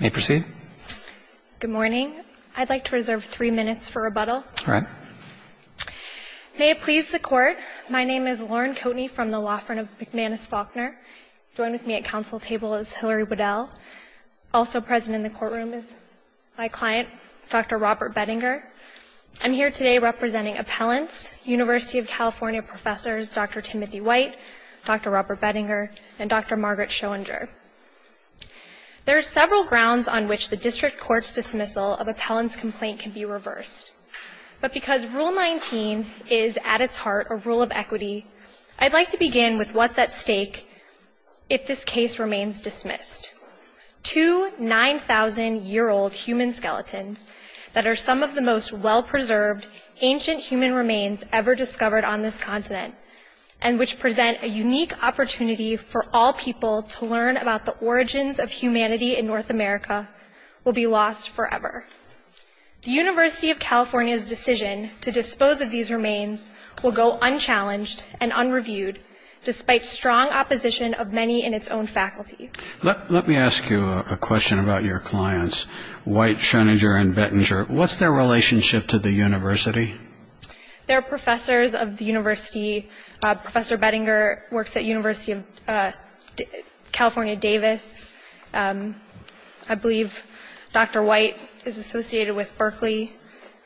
Good morning. I'd like to reserve three minutes for rebuttal. May it please the court, my name is Lauren Coatney from the law firm of McManus Faulkner. Joined with me at council table is Hilary Waddell. Also present in the courtroom is my client, Dr. Robert Beddinger. I'm here today representing appellants, University of California professors Dr. Timothy White, Dr. Robert Beddinger, and Dr. Margaret Schoendrink. There are several grounds on which the district court's dismissal of appellant's complaint can be reversed. But because Rule 19 is at its heart a rule of equity, I'd like to begin with what's at stake if this case remains dismissed. Two 9,000-year-old human skeletons that are some of the most well-preserved ancient human remains ever discovered on this continent and which present a unique opportunity for all people to learn about the origins of humanity in North America will be lost forever. The University of California's decision to dispose of these remains will go unchallenged and unreviewed, despite strong opposition of many in its own faculty. Let me ask you a question about your clients, White, Schoendrink, and Beddinger. What's their relationship to the university? They're professors of the university. Professor Beddinger works at University of California Davis. I believe Dr. White is associated with Berkeley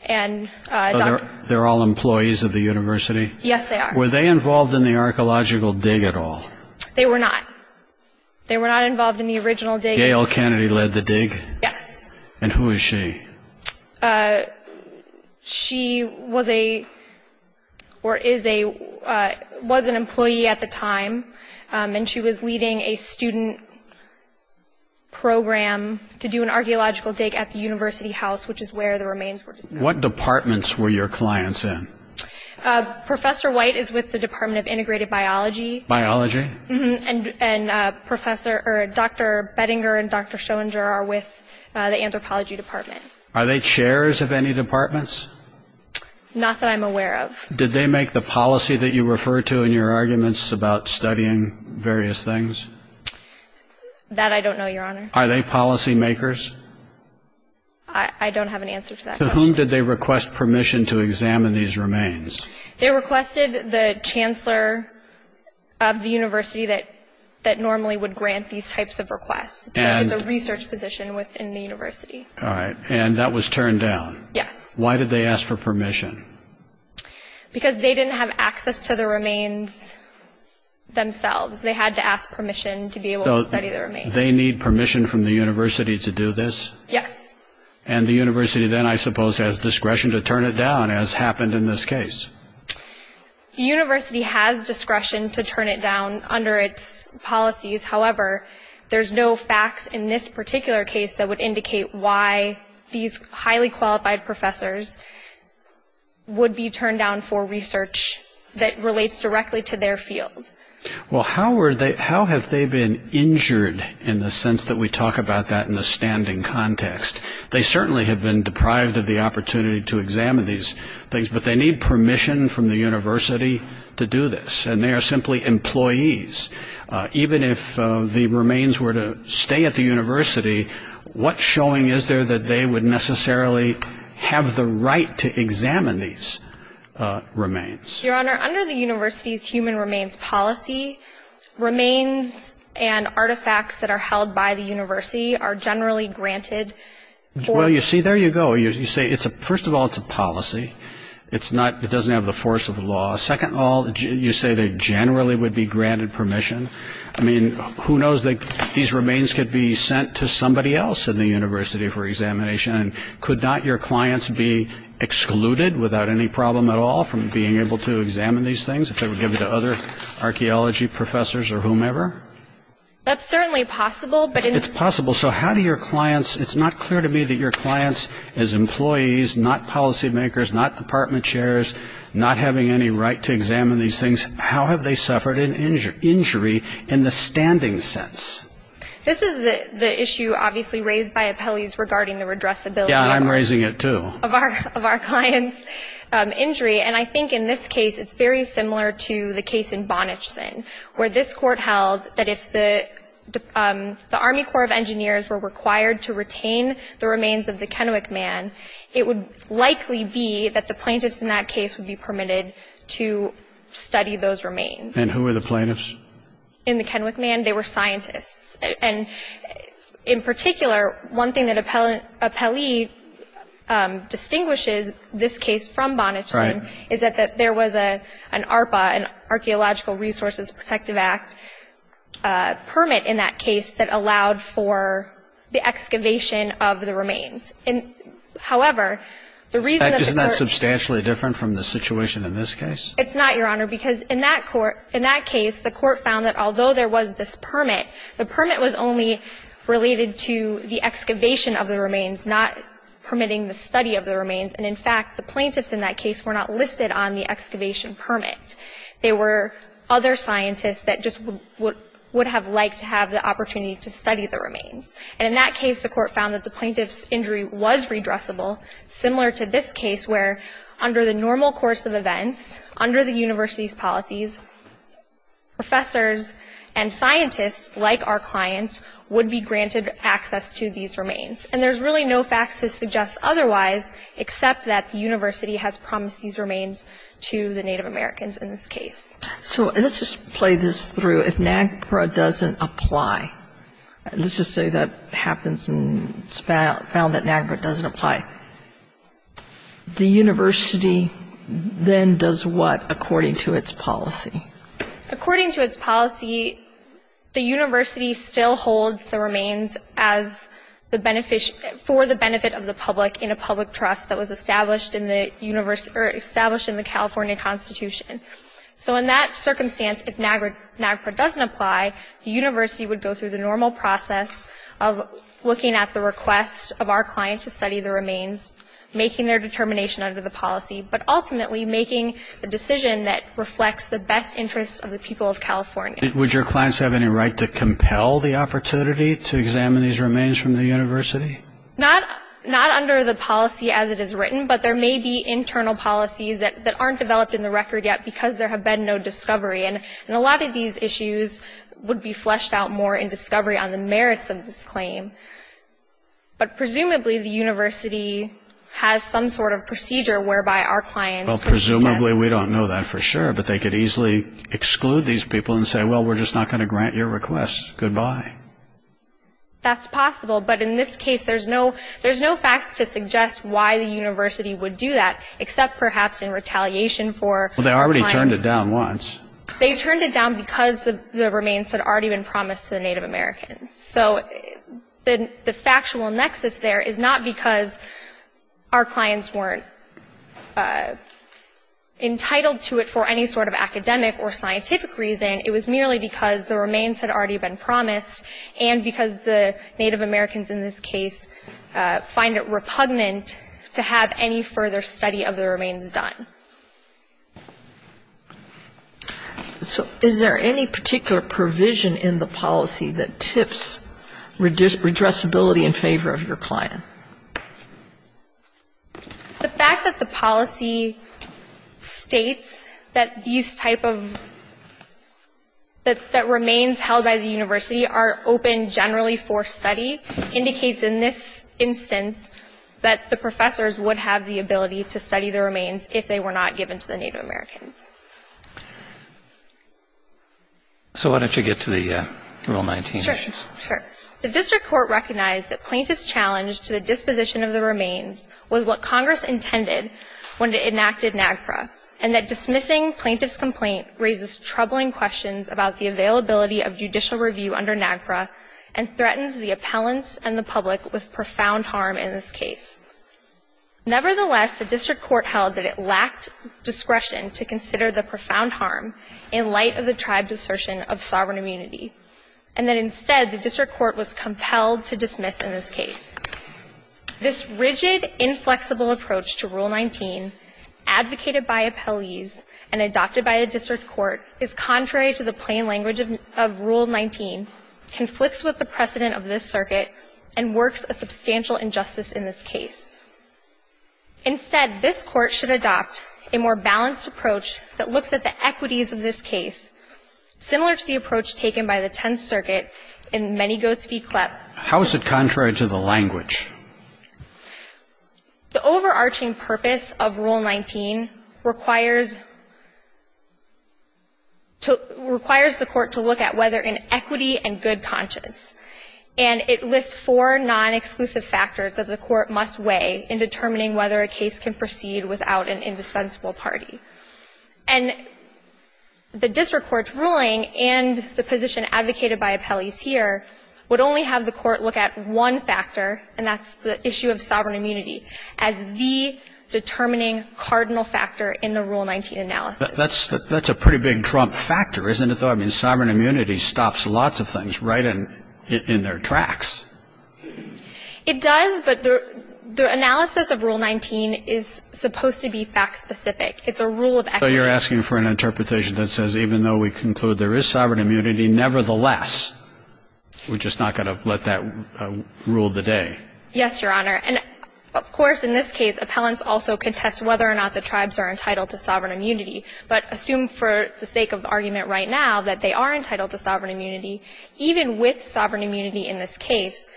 and Dr. White. They're all employees of the university? Yes, they are. Were they involved in the archaeological dig at all? They were not. They were not involved in the original dig. Gail Kennedy led the dig? Yes. And who is she? She was an employee at the time, and she was leading a student program to do an archaeological dig at the university house, which is where the remains were discovered. What departments were your clients in? Professor White is with the Department of Integrated Biology, and Dr. Beddinger and Dr. Schoendrink are with the Anthropology Department. Are they chairs of any departments? Not that I'm aware of. Did they make the policy that you refer to in your arguments about studying various things? That I don't know, Your Honor. Are they policy makers? I don't have an answer to that question. To whom did they request permission to examine these remains? They requested the chancellor of the university that normally would grant these types of requests. It's a research position within the university. And that was turned down? Yes. Why did they ask for permission? Because they didn't have access to the remains themselves. They had to ask permission to be able to study the remains. So they need permission from the university to do this? Yes. And the university then, I suppose, has discretion to turn it down, as happened in this case? The university has discretion to turn it down under its policies. However, there's no facts in this particular case that would indicate why these highly qualified professors would be turned down for research that relates directly to their field. Well, how have they been injured in the sense that we talk about that in the standing context? They certainly have been deprived of the opportunity to examine these things. But they need permission from the university to do this. And they are simply employees. Even if the remains were to stay at the university, what showing is there that they would necessarily have the right to examine these remains? Your Honor, under the university's human remains policy, remains and artifacts that are held by the university are generally granted. Well, you see, there you go. You say, first of all, it's a policy. It doesn't have the force of law. Second of all, you say they generally would be granted permission. I mean, who knows that these remains could be sent to somebody else in the university for examination? And could not your clients be excluded without any problem at all from being able to examine these things if they were given to other archaeology professors or whomever? That's certainly possible. It's possible. So how do your clients, it's not clear to me that your clients as employees, not policymakers, not department chairs, not having any right to examine these things, how have they suffered an injury in the standing sense? This is the issue obviously raised by appellees regarding the redressability of our clients' injury. And I think in this case, it's very similar to the case in Bonnachson, where this court held that if the Army Corps of Engineers were required to retain the remains of the Kennewick Man, it would likely be that the plaintiffs in that case would be permitted to study those remains. And who were the plaintiffs? In the Kennewick Man, they were scientists. And in particular, one thing that appellee distinguishes this case from Bonnachson is that there was an ARPA, an Archaeological Resources Protective Act, permit in that case that allowed for the excavation of the remains. However, the reason that the court ---- Isn't that substantially different from the situation in this case? It's not, Your Honor, because in that court ---- in that case, the court found that although there was this permit, the permit was only related to the excavation of the remains, not permitting the study of the remains. And in fact, the plaintiffs in that case were not listed on the excavation permit. They were other scientists that just would have liked to have the opportunity to study the remains. And in that case, the court found that the plaintiff's injury was redressable, similar to this case where under the normal course of events, under the university's policies, professors and scientists like our clients would be granted access to these remains. And there's really no facts to suggest otherwise, except that the university has promised these remains to the Native Americans in this case. So let's just play this through. So if NAGPRA doesn't apply, let's just say that happens and it's found that NAGPRA doesn't apply, the university then does what according to its policy? According to its policy, the university still holds the remains for the benefit of the public in a public trust that was established in the California Constitution. So in that circumstance, if NAGPRA doesn't apply, the university would go through the normal process of looking at the request of our clients to study the remains, making their determination under the policy, but ultimately making the decision that reflects the best interests of the people of California. Would your clients have any right to compel the opportunity to examine these remains from the university? Not under the policy as it is written, but there may be internal policies that aren't developed in the record yet because there have been no discovery. And a lot of these issues would be fleshed out more in discovery on the merits of this claim. But presumably the university has some sort of procedure whereby our clients could suggest... Well, presumably we don't know that for sure, but they could easily exclude these people and say, well, we're just not going to grant your request, goodbye. That's possible, but in this case there's no facts to suggest why the university would do that, except perhaps in retaliation for... Well, they already turned it down once. They turned it down because the remains had already been promised to the Native Americans. So the factual nexus there is not because our clients weren't entitled to it for any sort of academic or scientific reason. It was merely because the remains had already been promised, and because the Native Americans in this case find it repugnant to have any further study of the remains done. So is there any particular provision in the policy that tips redressability in favor of your client? The fact that the policy states that these type of remains held by the university are open generally for study indicates in this instance that the professors would have the ability to study the remains if they were not given to the Native Americans. So why don't you get to the Rule 19 issues? Sure. The district court recognized that plaintiff's challenge to the disposition of the remains was what Congress intended when it enacted NAGPRA, and that dismissing plaintiff's complaint raises troubling questions about the availability of judicial review under NAGPRA and threatens the appellants and the public with profound harm in this case. Nevertheless, the district court held that it lacked discretion to consider the profound harm in light of the tribe's assertion of sovereign immunity, and that instead the district court was compelled to dismiss in this case. This rigid, inflexible approach to Rule 19 advocated by appellees and adopted by the district court is contrary to the plain language of Rule 19, conflicts with the precedent of this circuit, and works a substantial injustice in this case. Instead, this court should adopt a more balanced approach that looks at the equities of this case, similar to the approach taken by the Tenth Circuit in many Goatsby CLEP. How is it contrary to the language? The overarching purpose of Rule 19 requires to – requires the court to look at whether in equity and good conscience, and it lists four non-exclusive factors that the court must weigh in determining whether a case can proceed without an indispensable party. And the district court's ruling and the position advocated by appellees here would only have the court look at one factor, and that's the issue of sovereign immunity, as the determining cardinal factor in the Rule 19 analysis. That's a pretty big trump factor, isn't it, though? I mean, sovereign immunity stops lots of things right in their tracks. It does, but the analysis of Rule 19 is supposed to be fact-specific. It's a rule of equity. So you're asking for an interpretation that says even though we conclude there is sovereign immunity, nevertheless, we're just not going to let that rule the day. Yes, Your Honor. And of course, in this case, appellants also contest whether or not the tribes are entitled to sovereign immunity, but assume for the sake of argument right now that they are entitled to sovereign immunity, even with sovereign immunity in this case,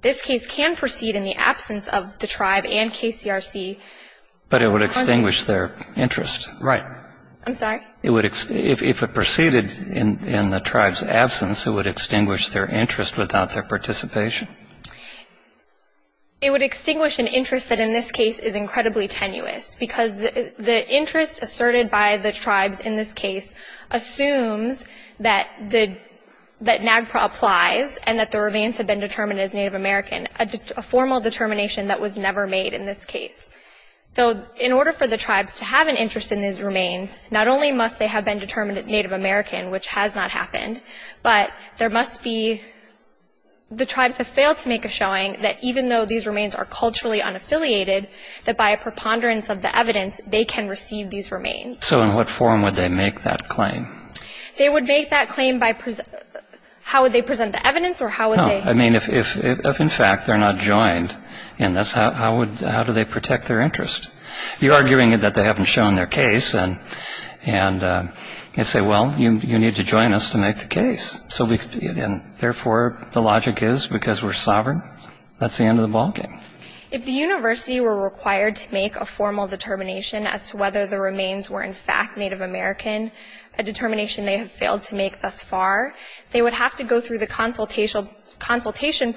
this case can proceed in the absence of the tribe and KCRC. But it would extinguish their interest. Right. I'm sorry? If it proceeded in the tribe's absence, it would extinguish their interest without their participation. It would extinguish an interest that in this case is incredibly tenuous, because the interest asserted by the tribes in this case assumes that the NAGPRA applies and that the remains have been determined as Native American, a formal determination that was never made in this case. So in order for the tribes to have an interest in these remains, not only must they have been determined as Native American, which has not happened, but there must be the tribes have failed to make a showing that even though these remains are culturally unaffiliated, that by a preponderance of the evidence, they can receive these remains. So in what form would they make that claim? They would make that claim by how would they present the evidence or how would they I mean, if in fact they're not joined in this, how do they protect their interest? You're arguing that they haven't shown their case and say, well, you need to join us to make the case. So therefore, the logic is because we're sovereign, that's the end of the ballgame. If the university were required to make a formal determination as to whether the remains were in fact Native American, a determination they have failed to make thus far, they would have to go through the consultation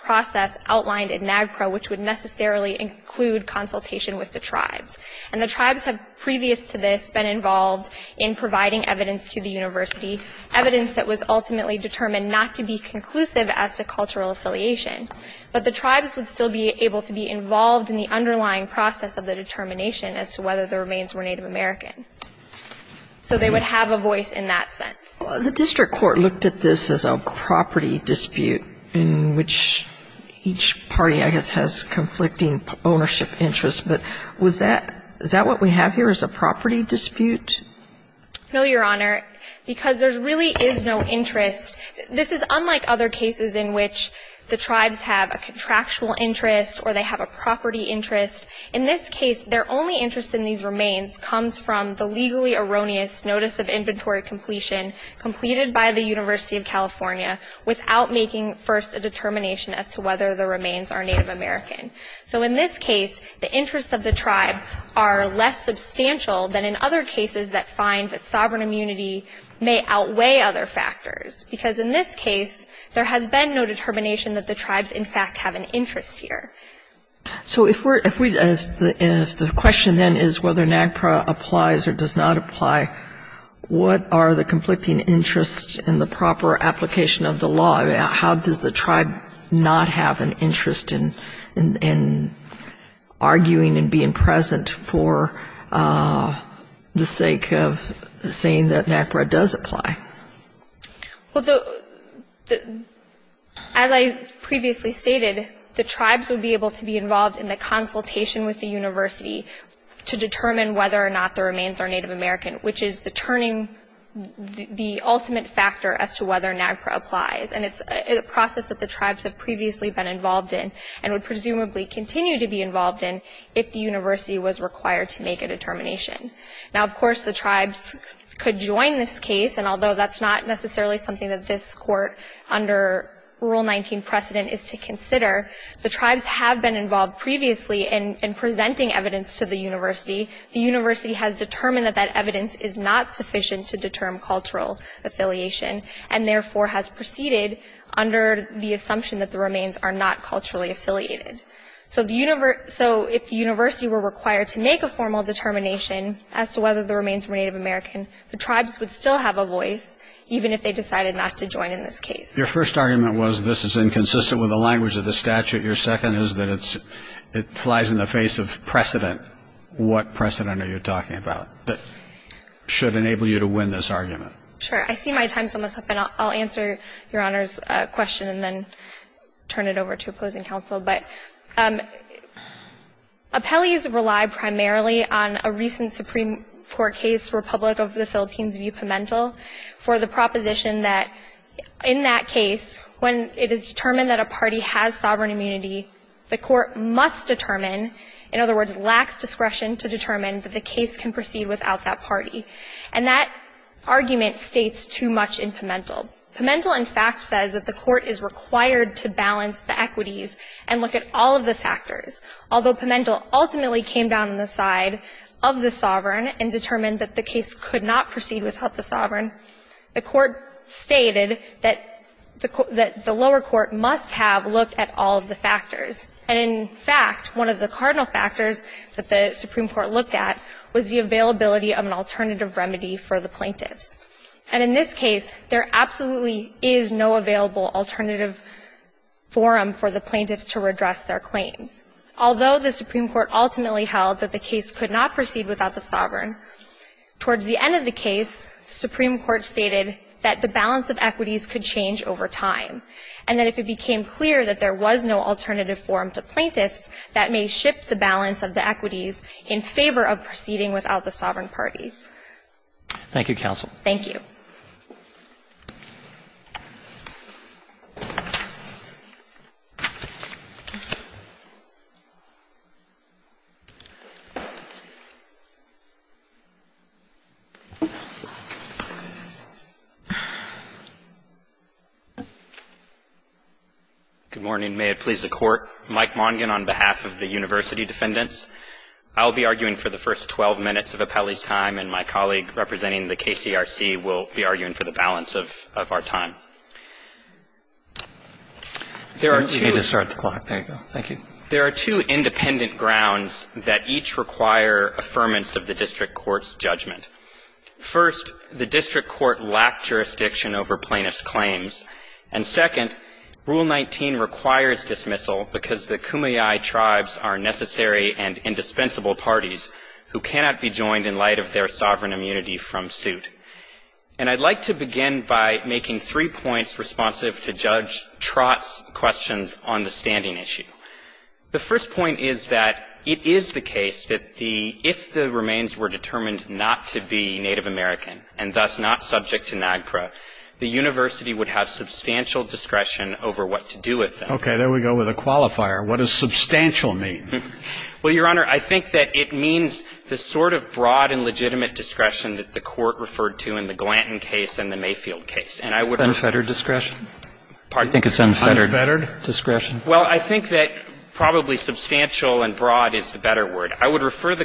process outlined in NAGPRA, which would necessarily include consultation with the tribes. And the tribes have previous to this been involved in providing evidence to the university, evidence that was ultimately determined not to be conclusive as to cultural affiliation. But the tribes would still be able to be involved in the underlying process of the determination as to whether the remains were Native American. So they would have a voice in that sense. The district court looked at this as a property dispute in which each party, I guess, has conflicting ownership interests. But was that, is that what we have here as a property dispute? No, Your Honor, because there really is no interest. This is unlike other cases in which the tribes have a contractual interest or they have a property interest. In this case, their only interest in these remains comes from the legally erroneous notice of inventory completion completed by the University of California without making first a determination as to whether the remains are Native American. So in this case, the interests of the tribe are less substantial than in other cases that find that sovereign immunity may outweigh other factors. Because in this case, there has been no determination that the tribes, in fact, have an interest here. So if we're, if we, if the question then is whether NAGPRA applies or does not apply, what are the conflicting interests in the proper application of the law? I mean, how does the tribe not have an interest in arguing and being present for the sake of saying that NAGPRA does apply? Well, the, as I previously stated, the tribes would be able to be involved in the consultation with the university to determine whether or not the remains are Native American, which is the turning, the ultimate factor as to whether NAGPRA applies. And it's a process that the tribes have previously been involved in and would presumably continue to be involved in if the university was required to make a determination. Now, of course, the tribes could join this case. And although that's not necessarily something that this court under Rule 19 precedent is to consider, the tribes have been involved previously in presenting evidence to the university. The university has determined that that evidence is not sufficient to determine cultural affiliation and therefore has proceeded under the assumption that the remains are not culturally affiliated. So if the university were required to make a formal determination as to whether the remains were Native American, the tribes would still have a voice even if they decided not to join in this case. Your first argument was this is inconsistent with the language of the statute. Your second is that it flies in the face of precedent. What precedent are you talking about that should enable you to win this argument? Sure. I see my time's almost up, and I'll answer Your Honor's question and then turn it over to opposing counsel. But appellees rely primarily on a recent Supreme Court case, Republic of the Philippines v. Pimentel, for the proposition that in that case, when it is determined that a party has sovereign immunity, the court must determine, in other words, lacks discretion to determine that the case can proceed without that party. And that argument states too much in Pimentel. Pimentel, in fact, says that the court is required to balance the equities and look at all of the factors. Although Pimentel ultimately came down on the side of the sovereign and determined that the case could not proceed without the sovereign, the court stated that the lower court must have looked at all of the factors. And in fact, one of the cardinal factors that the Supreme Court looked at was the availability of an alternative remedy for the plaintiffs. And in this case, there absolutely is no available alternative forum for the plaintiffs to redress their claims. Although the Supreme Court ultimately held that the case could not proceed without the sovereign, towards the end of the case, the Supreme Court stated that the balance of equities could change over time, and that if it became clear that there was no alternative forum to plaintiffs, that may shift the balance of the equities in favor of proceeding without the sovereign party. Thank you, counsel. Thank you. Good morning. May it please the Court. Mike Mongin on behalf of the University Defendants. I'll be arguing for the first 12 minutes of Appelli's time, and my colleague representing the KCRC will be arguing for the balance of our time. There are two independent grounds that each require affirmance of the district court's judgment. First, the district court lacked jurisdiction over plaintiffs' claims. And second, Rule 19 requires dismissal because the Kumeyaay tribes are necessary and indispensable parties who cannot be joined in light of their sovereign immunity from suit. And I'd like to begin by making three points responsive to Judge Trott's questions on the standing issue. The first point is that it is the case that if the remains were determined not to be Native American, and thus not subject to NAGPRA, the university would have substantial discretion over what to do with them. Okay. There we go with a qualifier. What does substantial mean? Well, Your Honor, I think that it means the sort of broad and legitimate discretion that the Court referred to in the Glanton case and the Mayfield case. And I would refer to the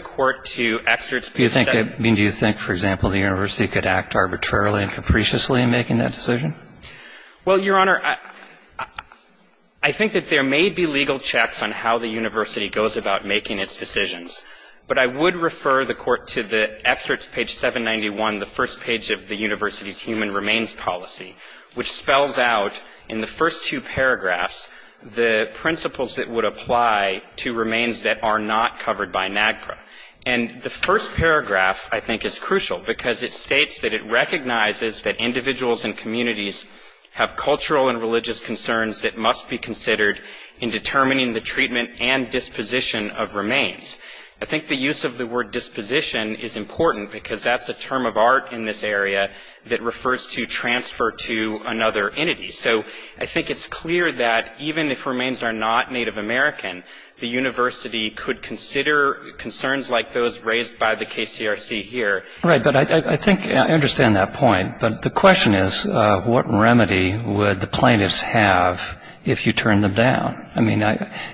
court to excerpts. Do you think, for example, the university could act arbitrarily and capriciously in making that decision? Well, Your Honor, I think that there may be legal checks on how the university goes about making its decisions, but I would refer the court to the excerpts, page 791, the first page of the university's human remains policy, which spells out in the first two paragraphs the principles that would apply to remains that are not covered by NAGPRA. And the first paragraph, I think, is crucial because it states that it recognizes that individuals and communities have cultural and religious concerns that must be considered in determining the treatment and disposition of remains. I think the use of the word disposition is important because that's a term of art in this area that refers to transfer to another entity. So I think it's clear that even if remains are not Native American, the university could consider concerns like those raised by the KCRC here. Right. But I think I understand that point, but the question is what remedy would the plaintiffs have if you turned them down? I mean,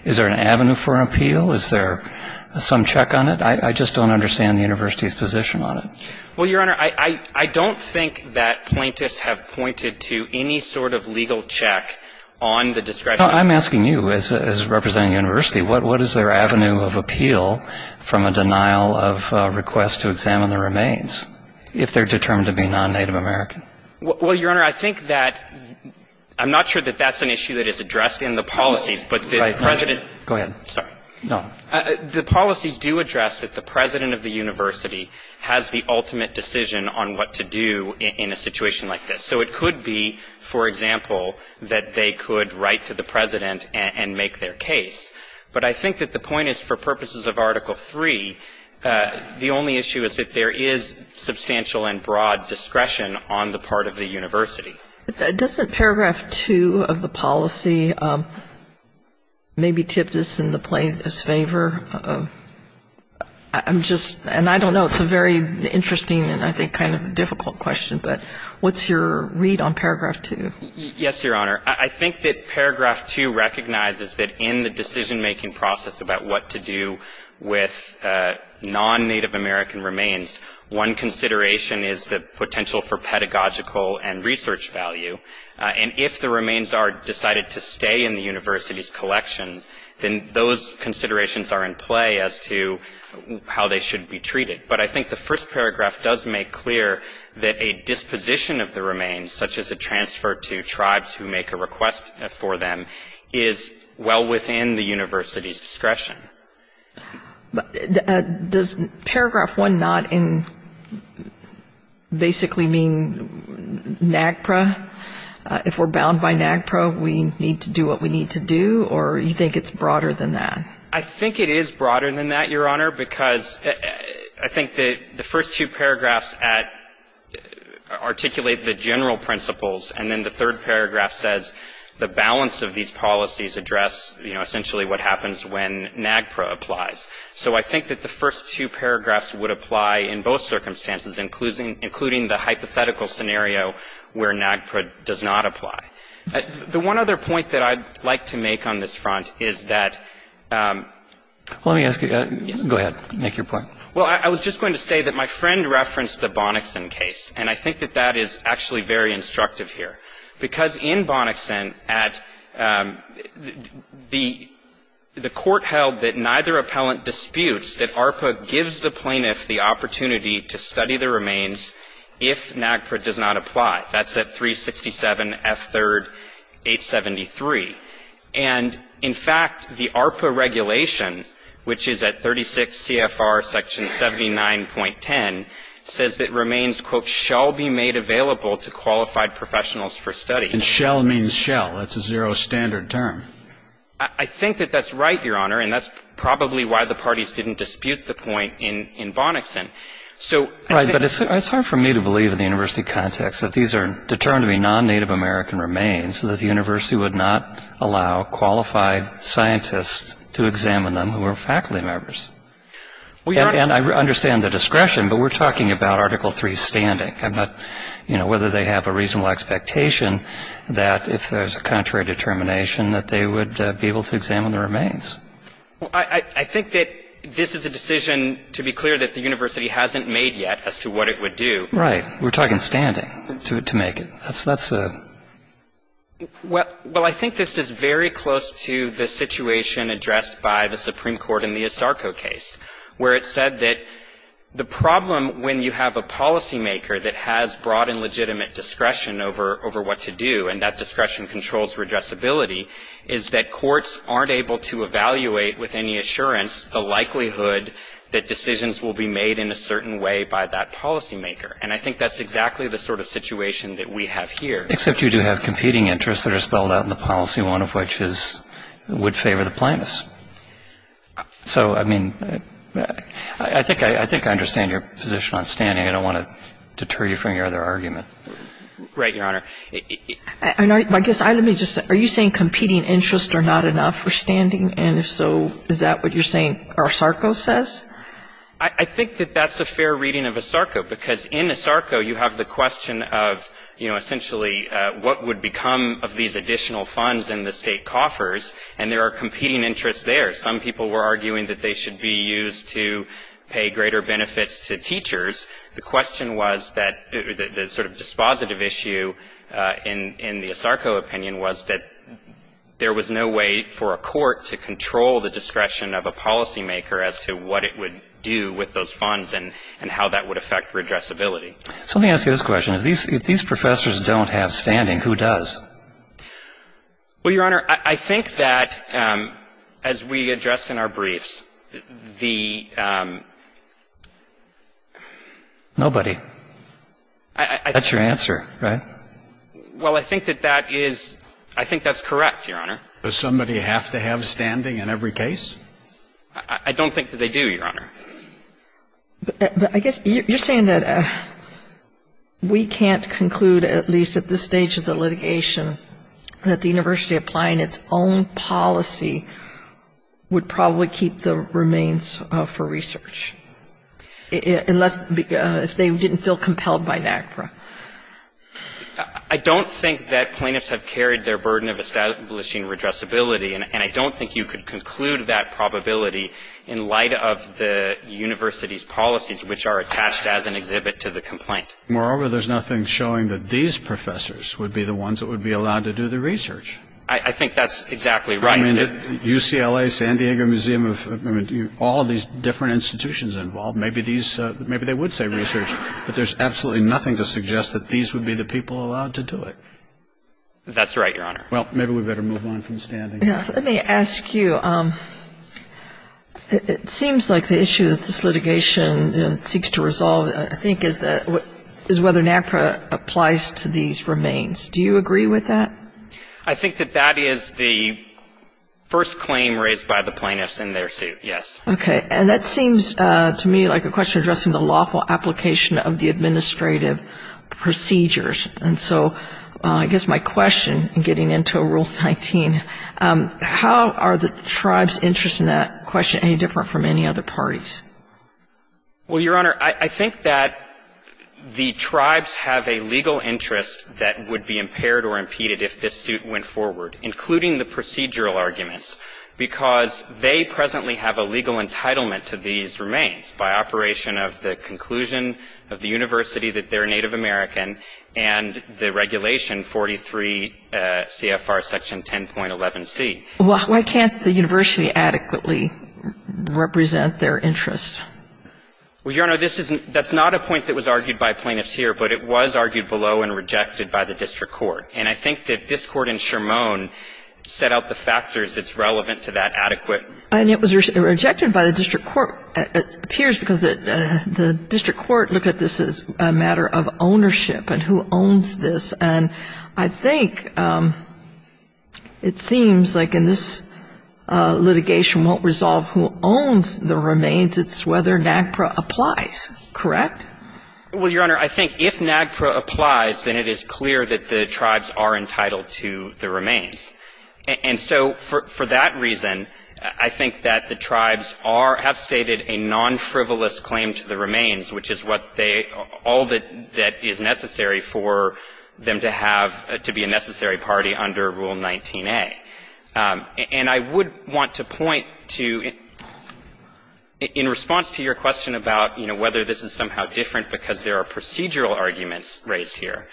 is there an avenue for appeal? Is there some check on it? I just don't understand the university's position on it. Well, Your Honor, I don't think that plaintiffs have pointed to any sort of legal check on the discretion. I'm asking you, as representing the university, what is their avenue of appeal from a denial of a request to examine the remains if they're determined to be non-Native American? Well, Your Honor, I think that I'm not sure that that's an issue that is addressed in the policies, but the president go ahead. Sorry. No. The policies do address that the president of the university has the ultimate decision on what to do in a situation like this. So it could be, for example, that they could write to the president and make their case, but I think that the point is for purposes of Article III, the only issue is that there is substantial and broad discretion on the part of the university. Doesn't paragraph 2 of the policy maybe tip this in the plaintiffs' favor? I'm just — and I don't know. It's a very interesting and I think kind of difficult question, but what's your read on paragraph 2? Yes, Your Honor. I think that paragraph 2 recognizes that in the decision-making process about what to do with non-Native American remains, one consideration is the potential for pedagogical and research value, and if the remains are decided to stay in the university's collection, then those considerations are in play as to how they should be treated. But I think the first paragraph does make clear that a disposition of the remains, such as a transfer to tribes who make a request for them, is well within the university's discretion. But does paragraph 1 not basically mean NAGPRA? If we're bound by NAGPRA, we need to do what we need to do, or you think it's broader than that? I think it is broader than that, Your Honor, because I think the first two paragraphs articulate the general principles, and then the third paragraph says the balance of these policies address, you know, essentially what happens when NAGPRA applies. So I think that the first two paragraphs would apply in both circumstances, including the hypothetical scenario where NAGPRA does not apply. The one other point that I'd like to make on this front is that ---- Well, let me ask you. Go ahead. Make your point. Well, I was just going to say that my friend referenced the Bonickson case, and I think that that is actually very instructive here. Because in Bonickson at the court held that neither appellant disputes that ARPA gives the plaintiff the opportunity to study the remains if NAGPRA does not apply. That's at 367 F. 3rd. 873. And in fact, the ARPA regulation, which is at 36 CFR section 79.10, says that remains quote, shall be made available to qualified professionals for study. And shall means shall. That's a zero standard term. I think that that's right, Your Honor, and that's probably why the parties didn't dispute the point in Bonickson. So I think ---- Right. But it's hard for me to believe in the university context that these are determined to be non-Native American remains so that the university would not allow qualified scientists to examine them who are faculty members. And I understand the discretion, but we're talking about Article III standing. I'm not, you know, whether they have a reasonable expectation that if there's a contrary determination that they would be able to examine the remains. Well, I think that this is a decision, to be clear, that the university hasn't made yet as to what it would do. We're talking standing to make it. That's a ---- Well, I think this is very close to the situation addressed by the Supreme Court in the Estarco case, where it said that the problem when you have a policymaker that has broad and legitimate discretion over what to do, and that discretion controls redressability, is that courts aren't able to evaluate with any assurance the likelihood that decisions will be made in a certain way by that policymaker. And I think that's exactly the sort of situation that we have here. Except you do have competing interests that are spelled out in the policy, one of which is it would favor the plaintiffs. So, I mean, I think I understand your position on standing. I don't want to deter you from your other argument. Right, Your Honor. I guess let me just say, are you saying competing interests are not enough for standing? And if so, is that what you're saying Estarco says? I think that that's a fair reading of Estarco, because in Estarco you have the question of, you know, essentially what would become of these additional funds in the State coffers, and there are competing interests there. Some people were arguing that they should be used to pay greater benefits to teachers. The question was that the sort of dispositive issue in the Estarco opinion was that there was no way for a court to control the discretion of a policymaker as to what it would do with those funds and how that would affect redressability. So let me ask you this question. If these professors don't have standing, who does? Well, Your Honor, I think that, as we addressed in our briefs, the — Nobody. That's your answer, right? Well, I think that that is — I think that's correct, Your Honor. Does somebody have to have standing in every case? I don't think that they do, Your Honor. But I guess you're saying that we can't conclude, at least at this stage of the litigation, that the university applying its own policy would probably keep the remains for research, unless — if they didn't feel compelled by NACPRA. I don't think that plaintiffs have carried their burden of establishing redressability, and I don't think you could conclude that probability in light of the university's policies, which are attached as an exhibit to the complaint. Moreover, there's nothing showing that these professors would be the ones that would be allowed to do the research. I think that's exactly right. I mean, UCLA, San Diego Museum of — I mean, all these different institutions involved, maybe these — maybe they would say research, but there's absolutely nothing to suggest that these would be the people allowed to do it. That's right, Your Honor. Well, maybe we better move on from standing. Let me ask you. It seems like the issue that this litigation seeks to resolve, I think, is whether NACPRA applies to these remains. Do you agree with that? I think that that is the first claim raised by the plaintiffs in their suit, yes. Okay. And that seems to me like a question addressing the lawful application of the administrative procedures. And so I guess my question, getting into Rule 19, how are the tribes' interest in that question any different from any other parties? Well, Your Honor, I think that the tribes have a legal interest that would be impaired or impeded if this suit went forward, including the procedural arguments, because they presently have a legal entitlement to these remains by operation of the conclusion of the university that they're Native American and the regulation 43 CFR section 10.11c. Well, why can't the university adequately represent their interest? Well, Your Honor, this isn't — that's not a point that was argued by plaintiffs here, but it was argued below and rejected by the district court. And I think that this Court in Shermone set out the factors that's relevant to that adequate. And it was rejected by the district court, it appears, because the district court looked at this as a matter of ownership and who owns this. And I think it seems like in this litigation won't resolve who owns the remains, it's whether NAGPRA applies, correct? Well, Your Honor, I think if NAGPRA applies, then it is clear that the tribes are entitled to the remains. And so for that reason, I think that the tribes are — have stated a non-frivolous claim to the remains, which is what they — all that is necessary for them to have — to be a necessary party under Rule 19a. And I would want to point to, in response to your question about, you know, whether this is somehow different because there are procedural arguments raised here,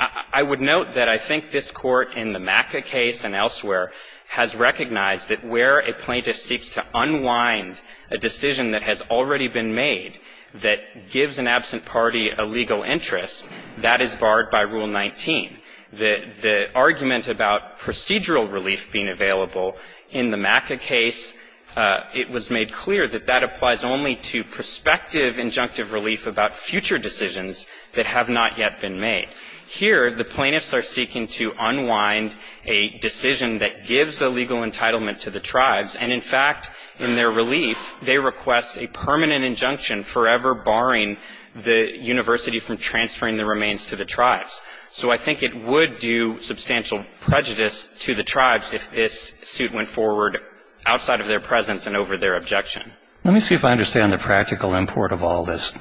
I would note that I think this Court, in the MACA case and elsewhere, has recognized that where a plaintiff seeks to unwind a decision that has already been made, that gives an absent party a legal interest, that is barred by Rule 19. The argument about procedural relief being available in the MACA case, it was made clear that that applies only to prospective injunctive relief about future decisions that have not yet been made. Here, the plaintiffs are seeking to unwind a decision that gives a legal entitlement to the tribes. And in fact, in their relief, they request a permanent injunction forever barring the university from transferring the remains to the tribes. So I think it would do substantial prejudice to the tribes if this suit went forward outside of their presence and over their objection. Let me see if I understand the practical import of all this.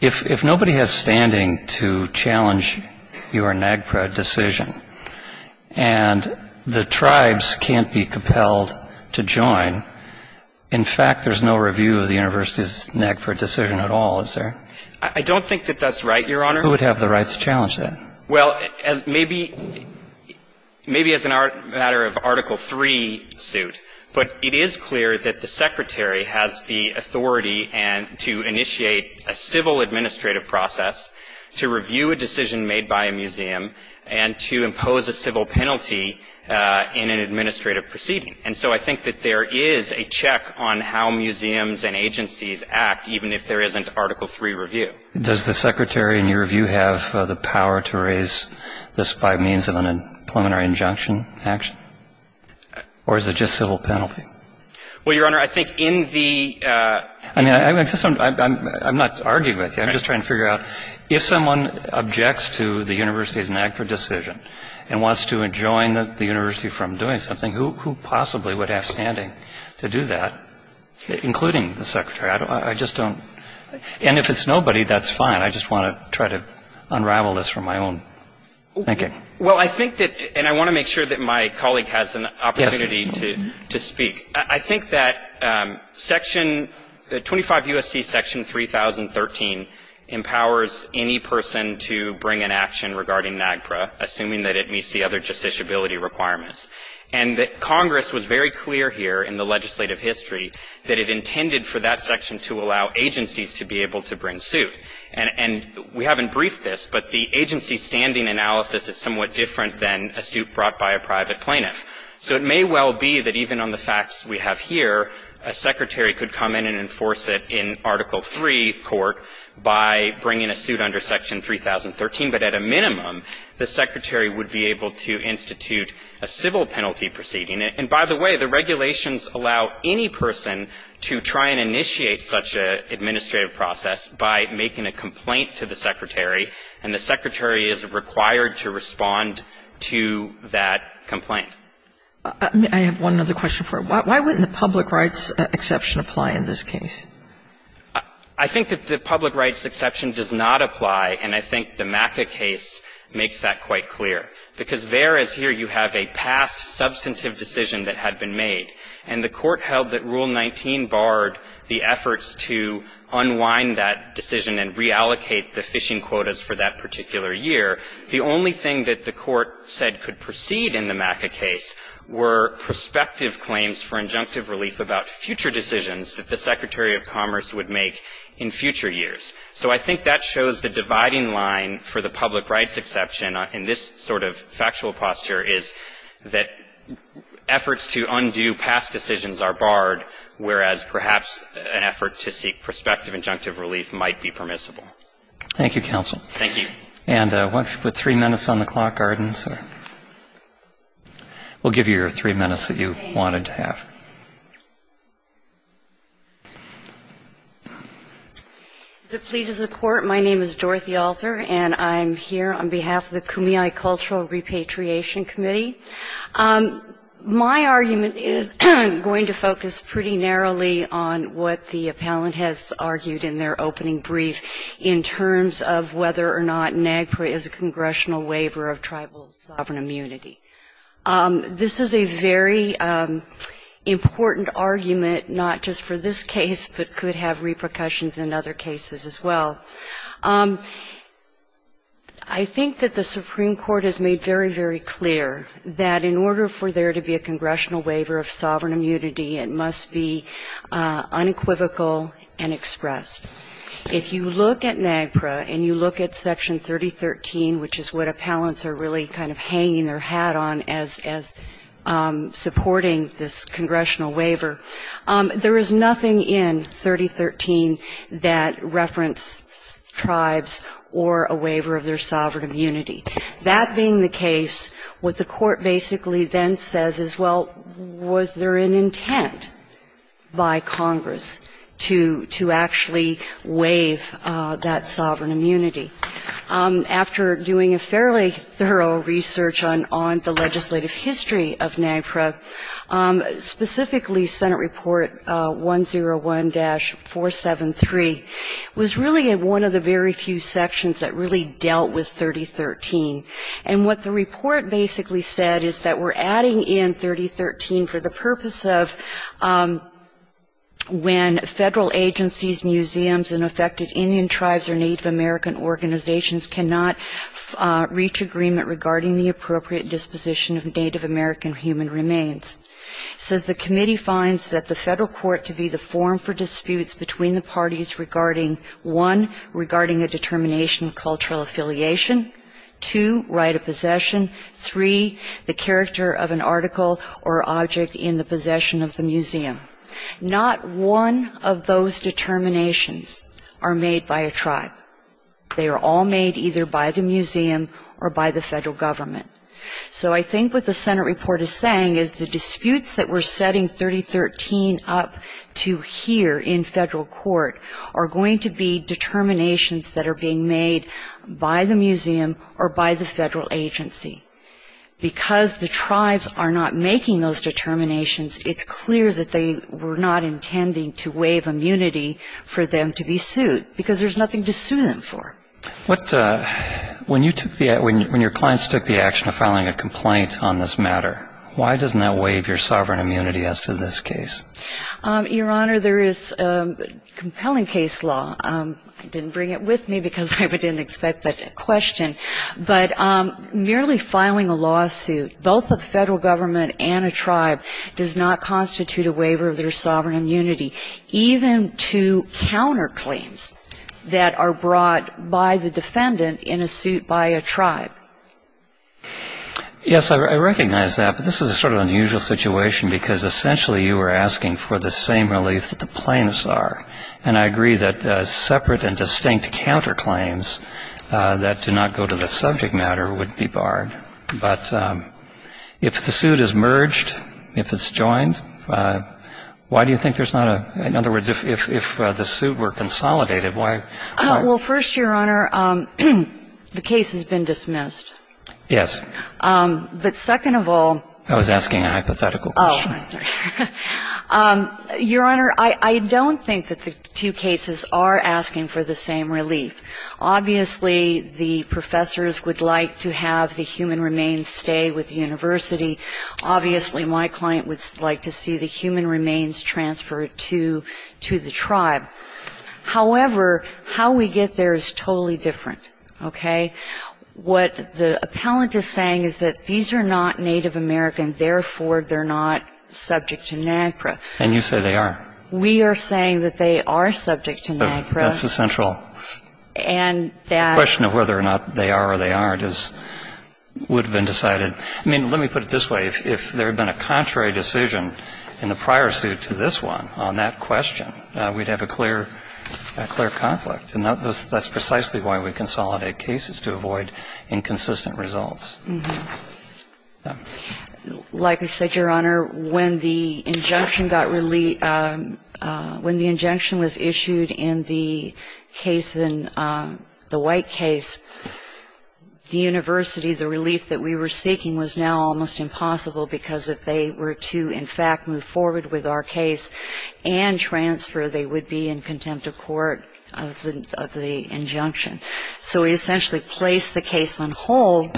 If nobody has standing to challenge your NAGPRA decision, and the tribes can't be compelled to join, in fact, there's no review of the university's NAGPRA decision at all, is there? I don't think that that's right, Your Honor. Who would have the right to challenge that? Well, maybe as a matter of Article III suit, but it is clear that the Secretary has the authority to initiate a civil administrative process, to review a decision made by a museum, and to impose a civil penalty in an administrative proceeding. And so I think that there is a check on how museums and agencies act, even if there isn't Article III review. Does the Secretary, in your review, have the power to raise this by means of a preliminary injunction action? Or is it just civil penalty? Well, Your Honor, I think in the — I mean, I'm not arguing with you. I'm just trying to figure out, if someone objects to the university's NAGPRA decision and wants to adjoin the university from doing something, who possibly would have standing to do that, including the Secretary? I just don't — and if it's nobody, that's fine. I just want to try to unravel this from my own thinking. Well, I think that — and I want to make sure that my colleague has an opportunity to speak. I think that Section — 25 U.S.C. Section 3013 empowers any person to bring an action regarding NAGPRA, assuming that it meets the other justiciability requirements. And Congress was very clear here in the legislative history that it intended for that section to allow agencies to be able to bring suit. And we haven't briefed this, but the agency standing analysis is somewhat different than a suit brought by a private plaintiff. So it may well be that even on the facts we have here, a secretary could come in and enforce it in Article III court by bringing a suit under Section 3013. But at a minimum, the secretary would be able to institute a civil penalty proceeding. And by the way, the regulations allow any person to try and initiate such an administrative process by making a complaint to the secretary, and the secretary is required to respond to that complaint. I have one other question for you. Why wouldn't the public rights exception apply in this case? I think that the public rights exception does not apply, and I think the MACA case makes that quite clear. Because there, as here, you have a past substantive decision that had been made. And the court held that Rule 19 barred the efforts to unwind that decision and reallocate the fishing quotas for that particular year. The only thing that the court said could proceed in the MACA case were prospective claims for injunctive relief about future decisions that the Secretary of Commerce would make in future years. So I think that shows the dividing line for the public rights exception in this sort of factual posture is that efforts to undo past decisions are barred, whereas perhaps an effort to seek prospective injunctive relief might be permissible. Thank you, counsel. Thank you. And with three minutes on the clock, Arden, sir, we'll give you your three minutes that you wanted to have. If it pleases the Court, my name is Dorothy Alther, and I'm here on behalf of the Kumeyaay Cultural Repatriation Committee. My argument is going to focus pretty narrowly on what the appellant has argued in their opening brief in terms of whether or not NAGPRA is a congressional waiver of tribal sovereign immunity. This is a very important argument, not just for this case, but could have repercussions in other cases as well. I think that the Supreme Court has made very, very clear that in order for there to be a congressional waiver of sovereign immunity, it must be unequivocal and expressed. If you look at NAGPRA and you look at Section 3013, which is what appellants are really kind of hanging their hat on as supporting this congressional waiver, there is nothing in 3013 that reference tribes or a waiver of their sovereign immunity. That being the case, what the Court basically then says is, well, was there an intent by Congress to actually waive that sovereign immunity? After doing a fairly thorough research on the legislative history of NAGPRA, specifically Senate Report 101-473, was really one of the very few sections that really dealt with 3013. And what the report basically said is that we're adding in 3013 for the purpose of when federal agencies, museums, and affected Indian tribes or Native American organizations cannot reach agreement regarding the appropriate disposition of Native American human remains. It says the committee finds that the federal court to be the forum for disputes between the parties regarding, one, regarding a determination of cultural affiliation, two, right of possession, three, the character of an article or object in the possession of the museum. Not one of those determinations are made by a tribe. They are all made either by the museum or by the federal government. So I think what the Senate report is saying is the disputes that we're setting 3013 up to here in federal court are going to be determinations that are being made by the museum or by the federal agency. Because the tribes are not making those determinations, it's clear that they were not intending to waive immunity for them to be sued, because there's nothing to sue them for. What, when you took the, when your clients took the action of filing a complaint on this matter, why doesn't that waive your sovereign immunity as to this case? Your Honor, there is compelling case law. I didn't bring it with me because I didn't expect that question. But merely filing a lawsuit, both with the federal government and a tribe, does not constitute a waiver of their sovereign immunity. Even to counterclaims that are brought by the defendant in a suit by a tribe. Yes, I recognize that. But this is a sort of unusual situation, because essentially you are asking for the same relief that the plaintiffs are. And I agree that separate and distinct counterclaims that do not go to the subject matter would be barred. But if the suit is merged, if it's joined, why do you think there's not a separate and distinct counterclaim that would go to the subject matter? In other words, if the suit were consolidated, why? Well, first, Your Honor, the case has been dismissed. Yes. But second of all. I was asking a hypothetical question. Oh, I'm sorry. Your Honor, I don't think that the two cases are asking for the same relief. Obviously, the professors would like to have the human remains stay with the university. Obviously, my client would like to see the human remains transferred to the tribe. However, how we get there is totally different. Okay? What the appellant is saying is that these are not Native American. Therefore, they're not subject to NAGPRA. And you say they are. We are saying that they are subject to NAGPRA. That's the central question of whether or not they are or they aren't would have been decided. I mean, let me put it this way. If there had been a contrary decision in the prior suit to this one on that question, we'd have a clear conflict. And that's precisely why we consolidate cases, to avoid inconsistent results. Like I said, Your Honor, when the injunction got released, when the injunction was issued in the case, in the White case, the university, the relief that we were seeking was now almost impossible, because if they were to, in fact, move forward with our case and transfer, they would be in contempt of court of the injunction. So we essentially placed the case on hold,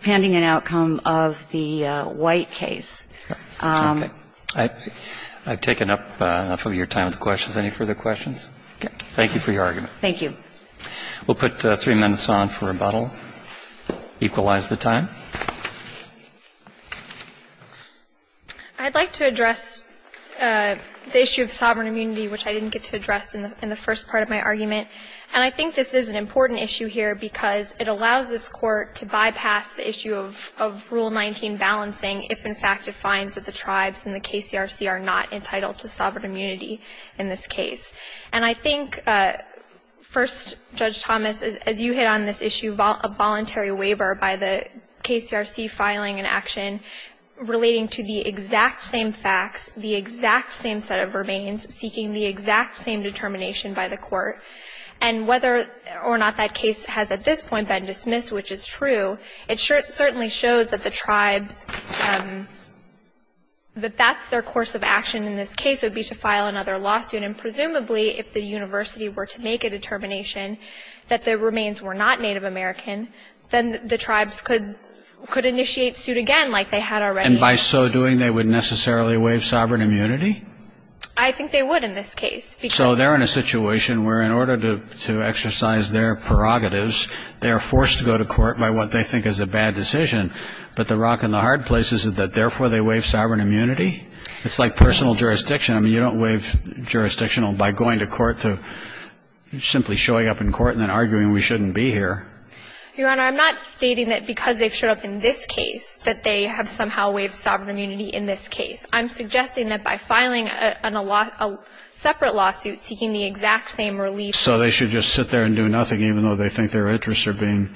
pending an outcome of the White case. I've taken up enough of your time with the questions. Any further questions? Thank you for your argument. Thank you. We'll put three minutes on for rebuttal, equalize the time. I'd like to address the issue of sovereign immunity, which I didn't get to address in the first part of my argument. And I think this is an important issue here, because it allows this court to bypass the issue of Rule 19 balancing, if in fact it finds that the tribes and the KCRC are not entitled to sovereign immunity in this case. And I think, first, Judge Thomas, as you hit on this issue, a voluntary waiver by the KCRC filing an action relating to the exact same facts, the exact same set of remains, seeking the exact same determination by the court. And whether or not that case has at this point been dismissed, which is true, it certainly shows that the tribes, that that's their course of action in this case, would be to file another lawsuit. And presumably, if the university were to make a determination that the remains were not Native American, then the tribes could initiate suit again, like they had already. And by so doing, they would necessarily waive sovereign immunity? I think they would in this case. So they're in a situation where, in order to exercise their prerogatives, they are forced to go to court by what they think is a bad decision, but the rock in the hard place is that, therefore, they waive sovereign immunity? It's like personal jurisdiction. I mean, you don't waive jurisdictional by going to court to simply showing up in court and then arguing we shouldn't be here. Your Honor, I'm not stating that because they've showed up in this case that they have somehow waived sovereign immunity in this case. I'm suggesting that by filing a separate lawsuit seeking the exact same relief. So they should just sit there and do nothing, even though they think their interests are being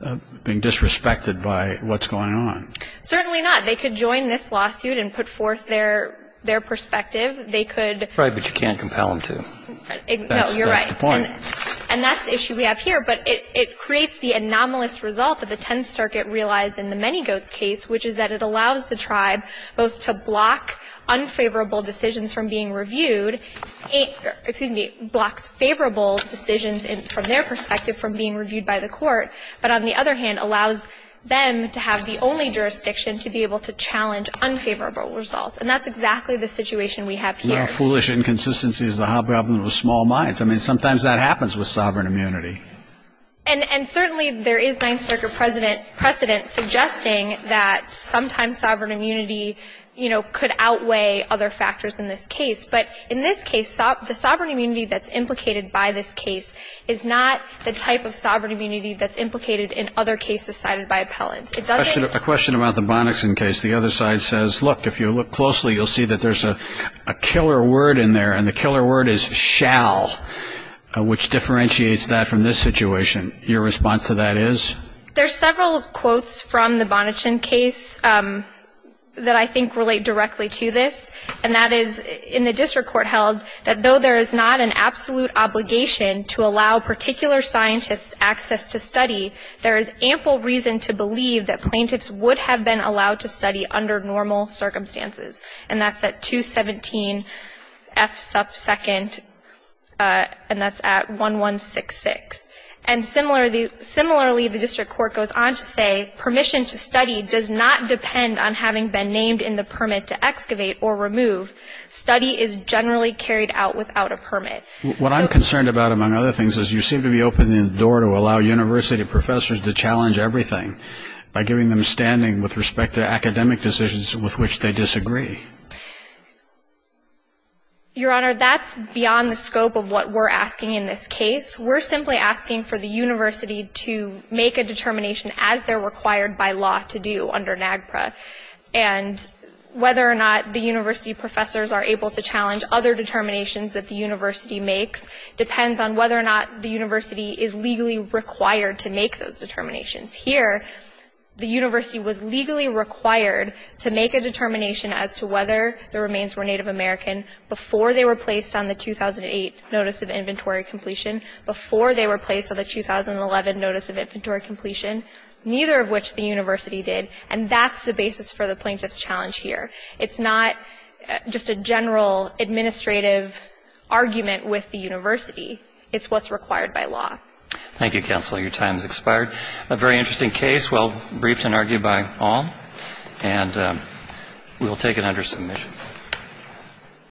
disrespected by what's going on? Certainly not. They could join this lawsuit and put forth their perspective. They could. Right, but you can't compel them to. No, you're right. That's the point. And that's the issue we have here, but it creates the anomalous result that the Tenth Circuit realized in the Many Goats case, which is that it allows the tribe both to block unfavorable decisions from being reviewed, excuse me, blocks favorable decisions from their perspective from being reviewed by the court, but on the other hand, allows them to have the only jurisdiction to be able to challenge unfavorable results. And that's exactly the situation we have here. One of the foolish inconsistencies is the problem with small minds. I mean, sometimes that happens with sovereign immunity. And certainly there is Ninth Circuit precedent suggesting that sometimes sovereign immunity, you know, could outweigh other factors in this case. But in this case, the sovereign immunity that's implicated by this case is not the type of sovereign immunity that's implicated in other cases cited by appellants. A question about the Bonickson case. The other side says, look, if you look closely, you'll see that there's a killer word in there, and the killer word is shall, which differentiates that from this situation. Your response to that is? There's several quotes from the Bonickson case that I think relate directly to this, and that is in the district court held that though there is not an absolute obligation to allow particular scientists access to study, there is ample reason to believe that they should be under normal circumstances. And that's at 217 F sub second, and that's at 1166. And similarly, the district court goes on to say, permission to study does not depend on having been named in the permit to excavate or remove. Study is generally carried out without a permit. What I'm concerned about, among other things, is you seem to be opening the door to allow university professors to challenge everything by giving them standing with respect to academic decisions with which they disagree. Your Honor, that's beyond the scope of what we're asking in this case. We're simply asking for the university to make a determination as they're required by law to do under NAGPRA. And whether or not the university professors are able to challenge other determinations that the university makes depends on whether or not the university is legally required to make those determinations. Here, the university was legally required to make a determination as to whether the remains were Native American before they were placed on the 2008 Notice of Inventory Completion, before they were placed on the 2011 Notice of Inventory Completion, neither of which the university did. And that's the basis for the plaintiff's challenge here. It's not just a general administrative argument with the university. It's what's required by law. Thank you, counsel. Your time has expired. A very interesting case, well briefed and argued by all. And we will take it under submission.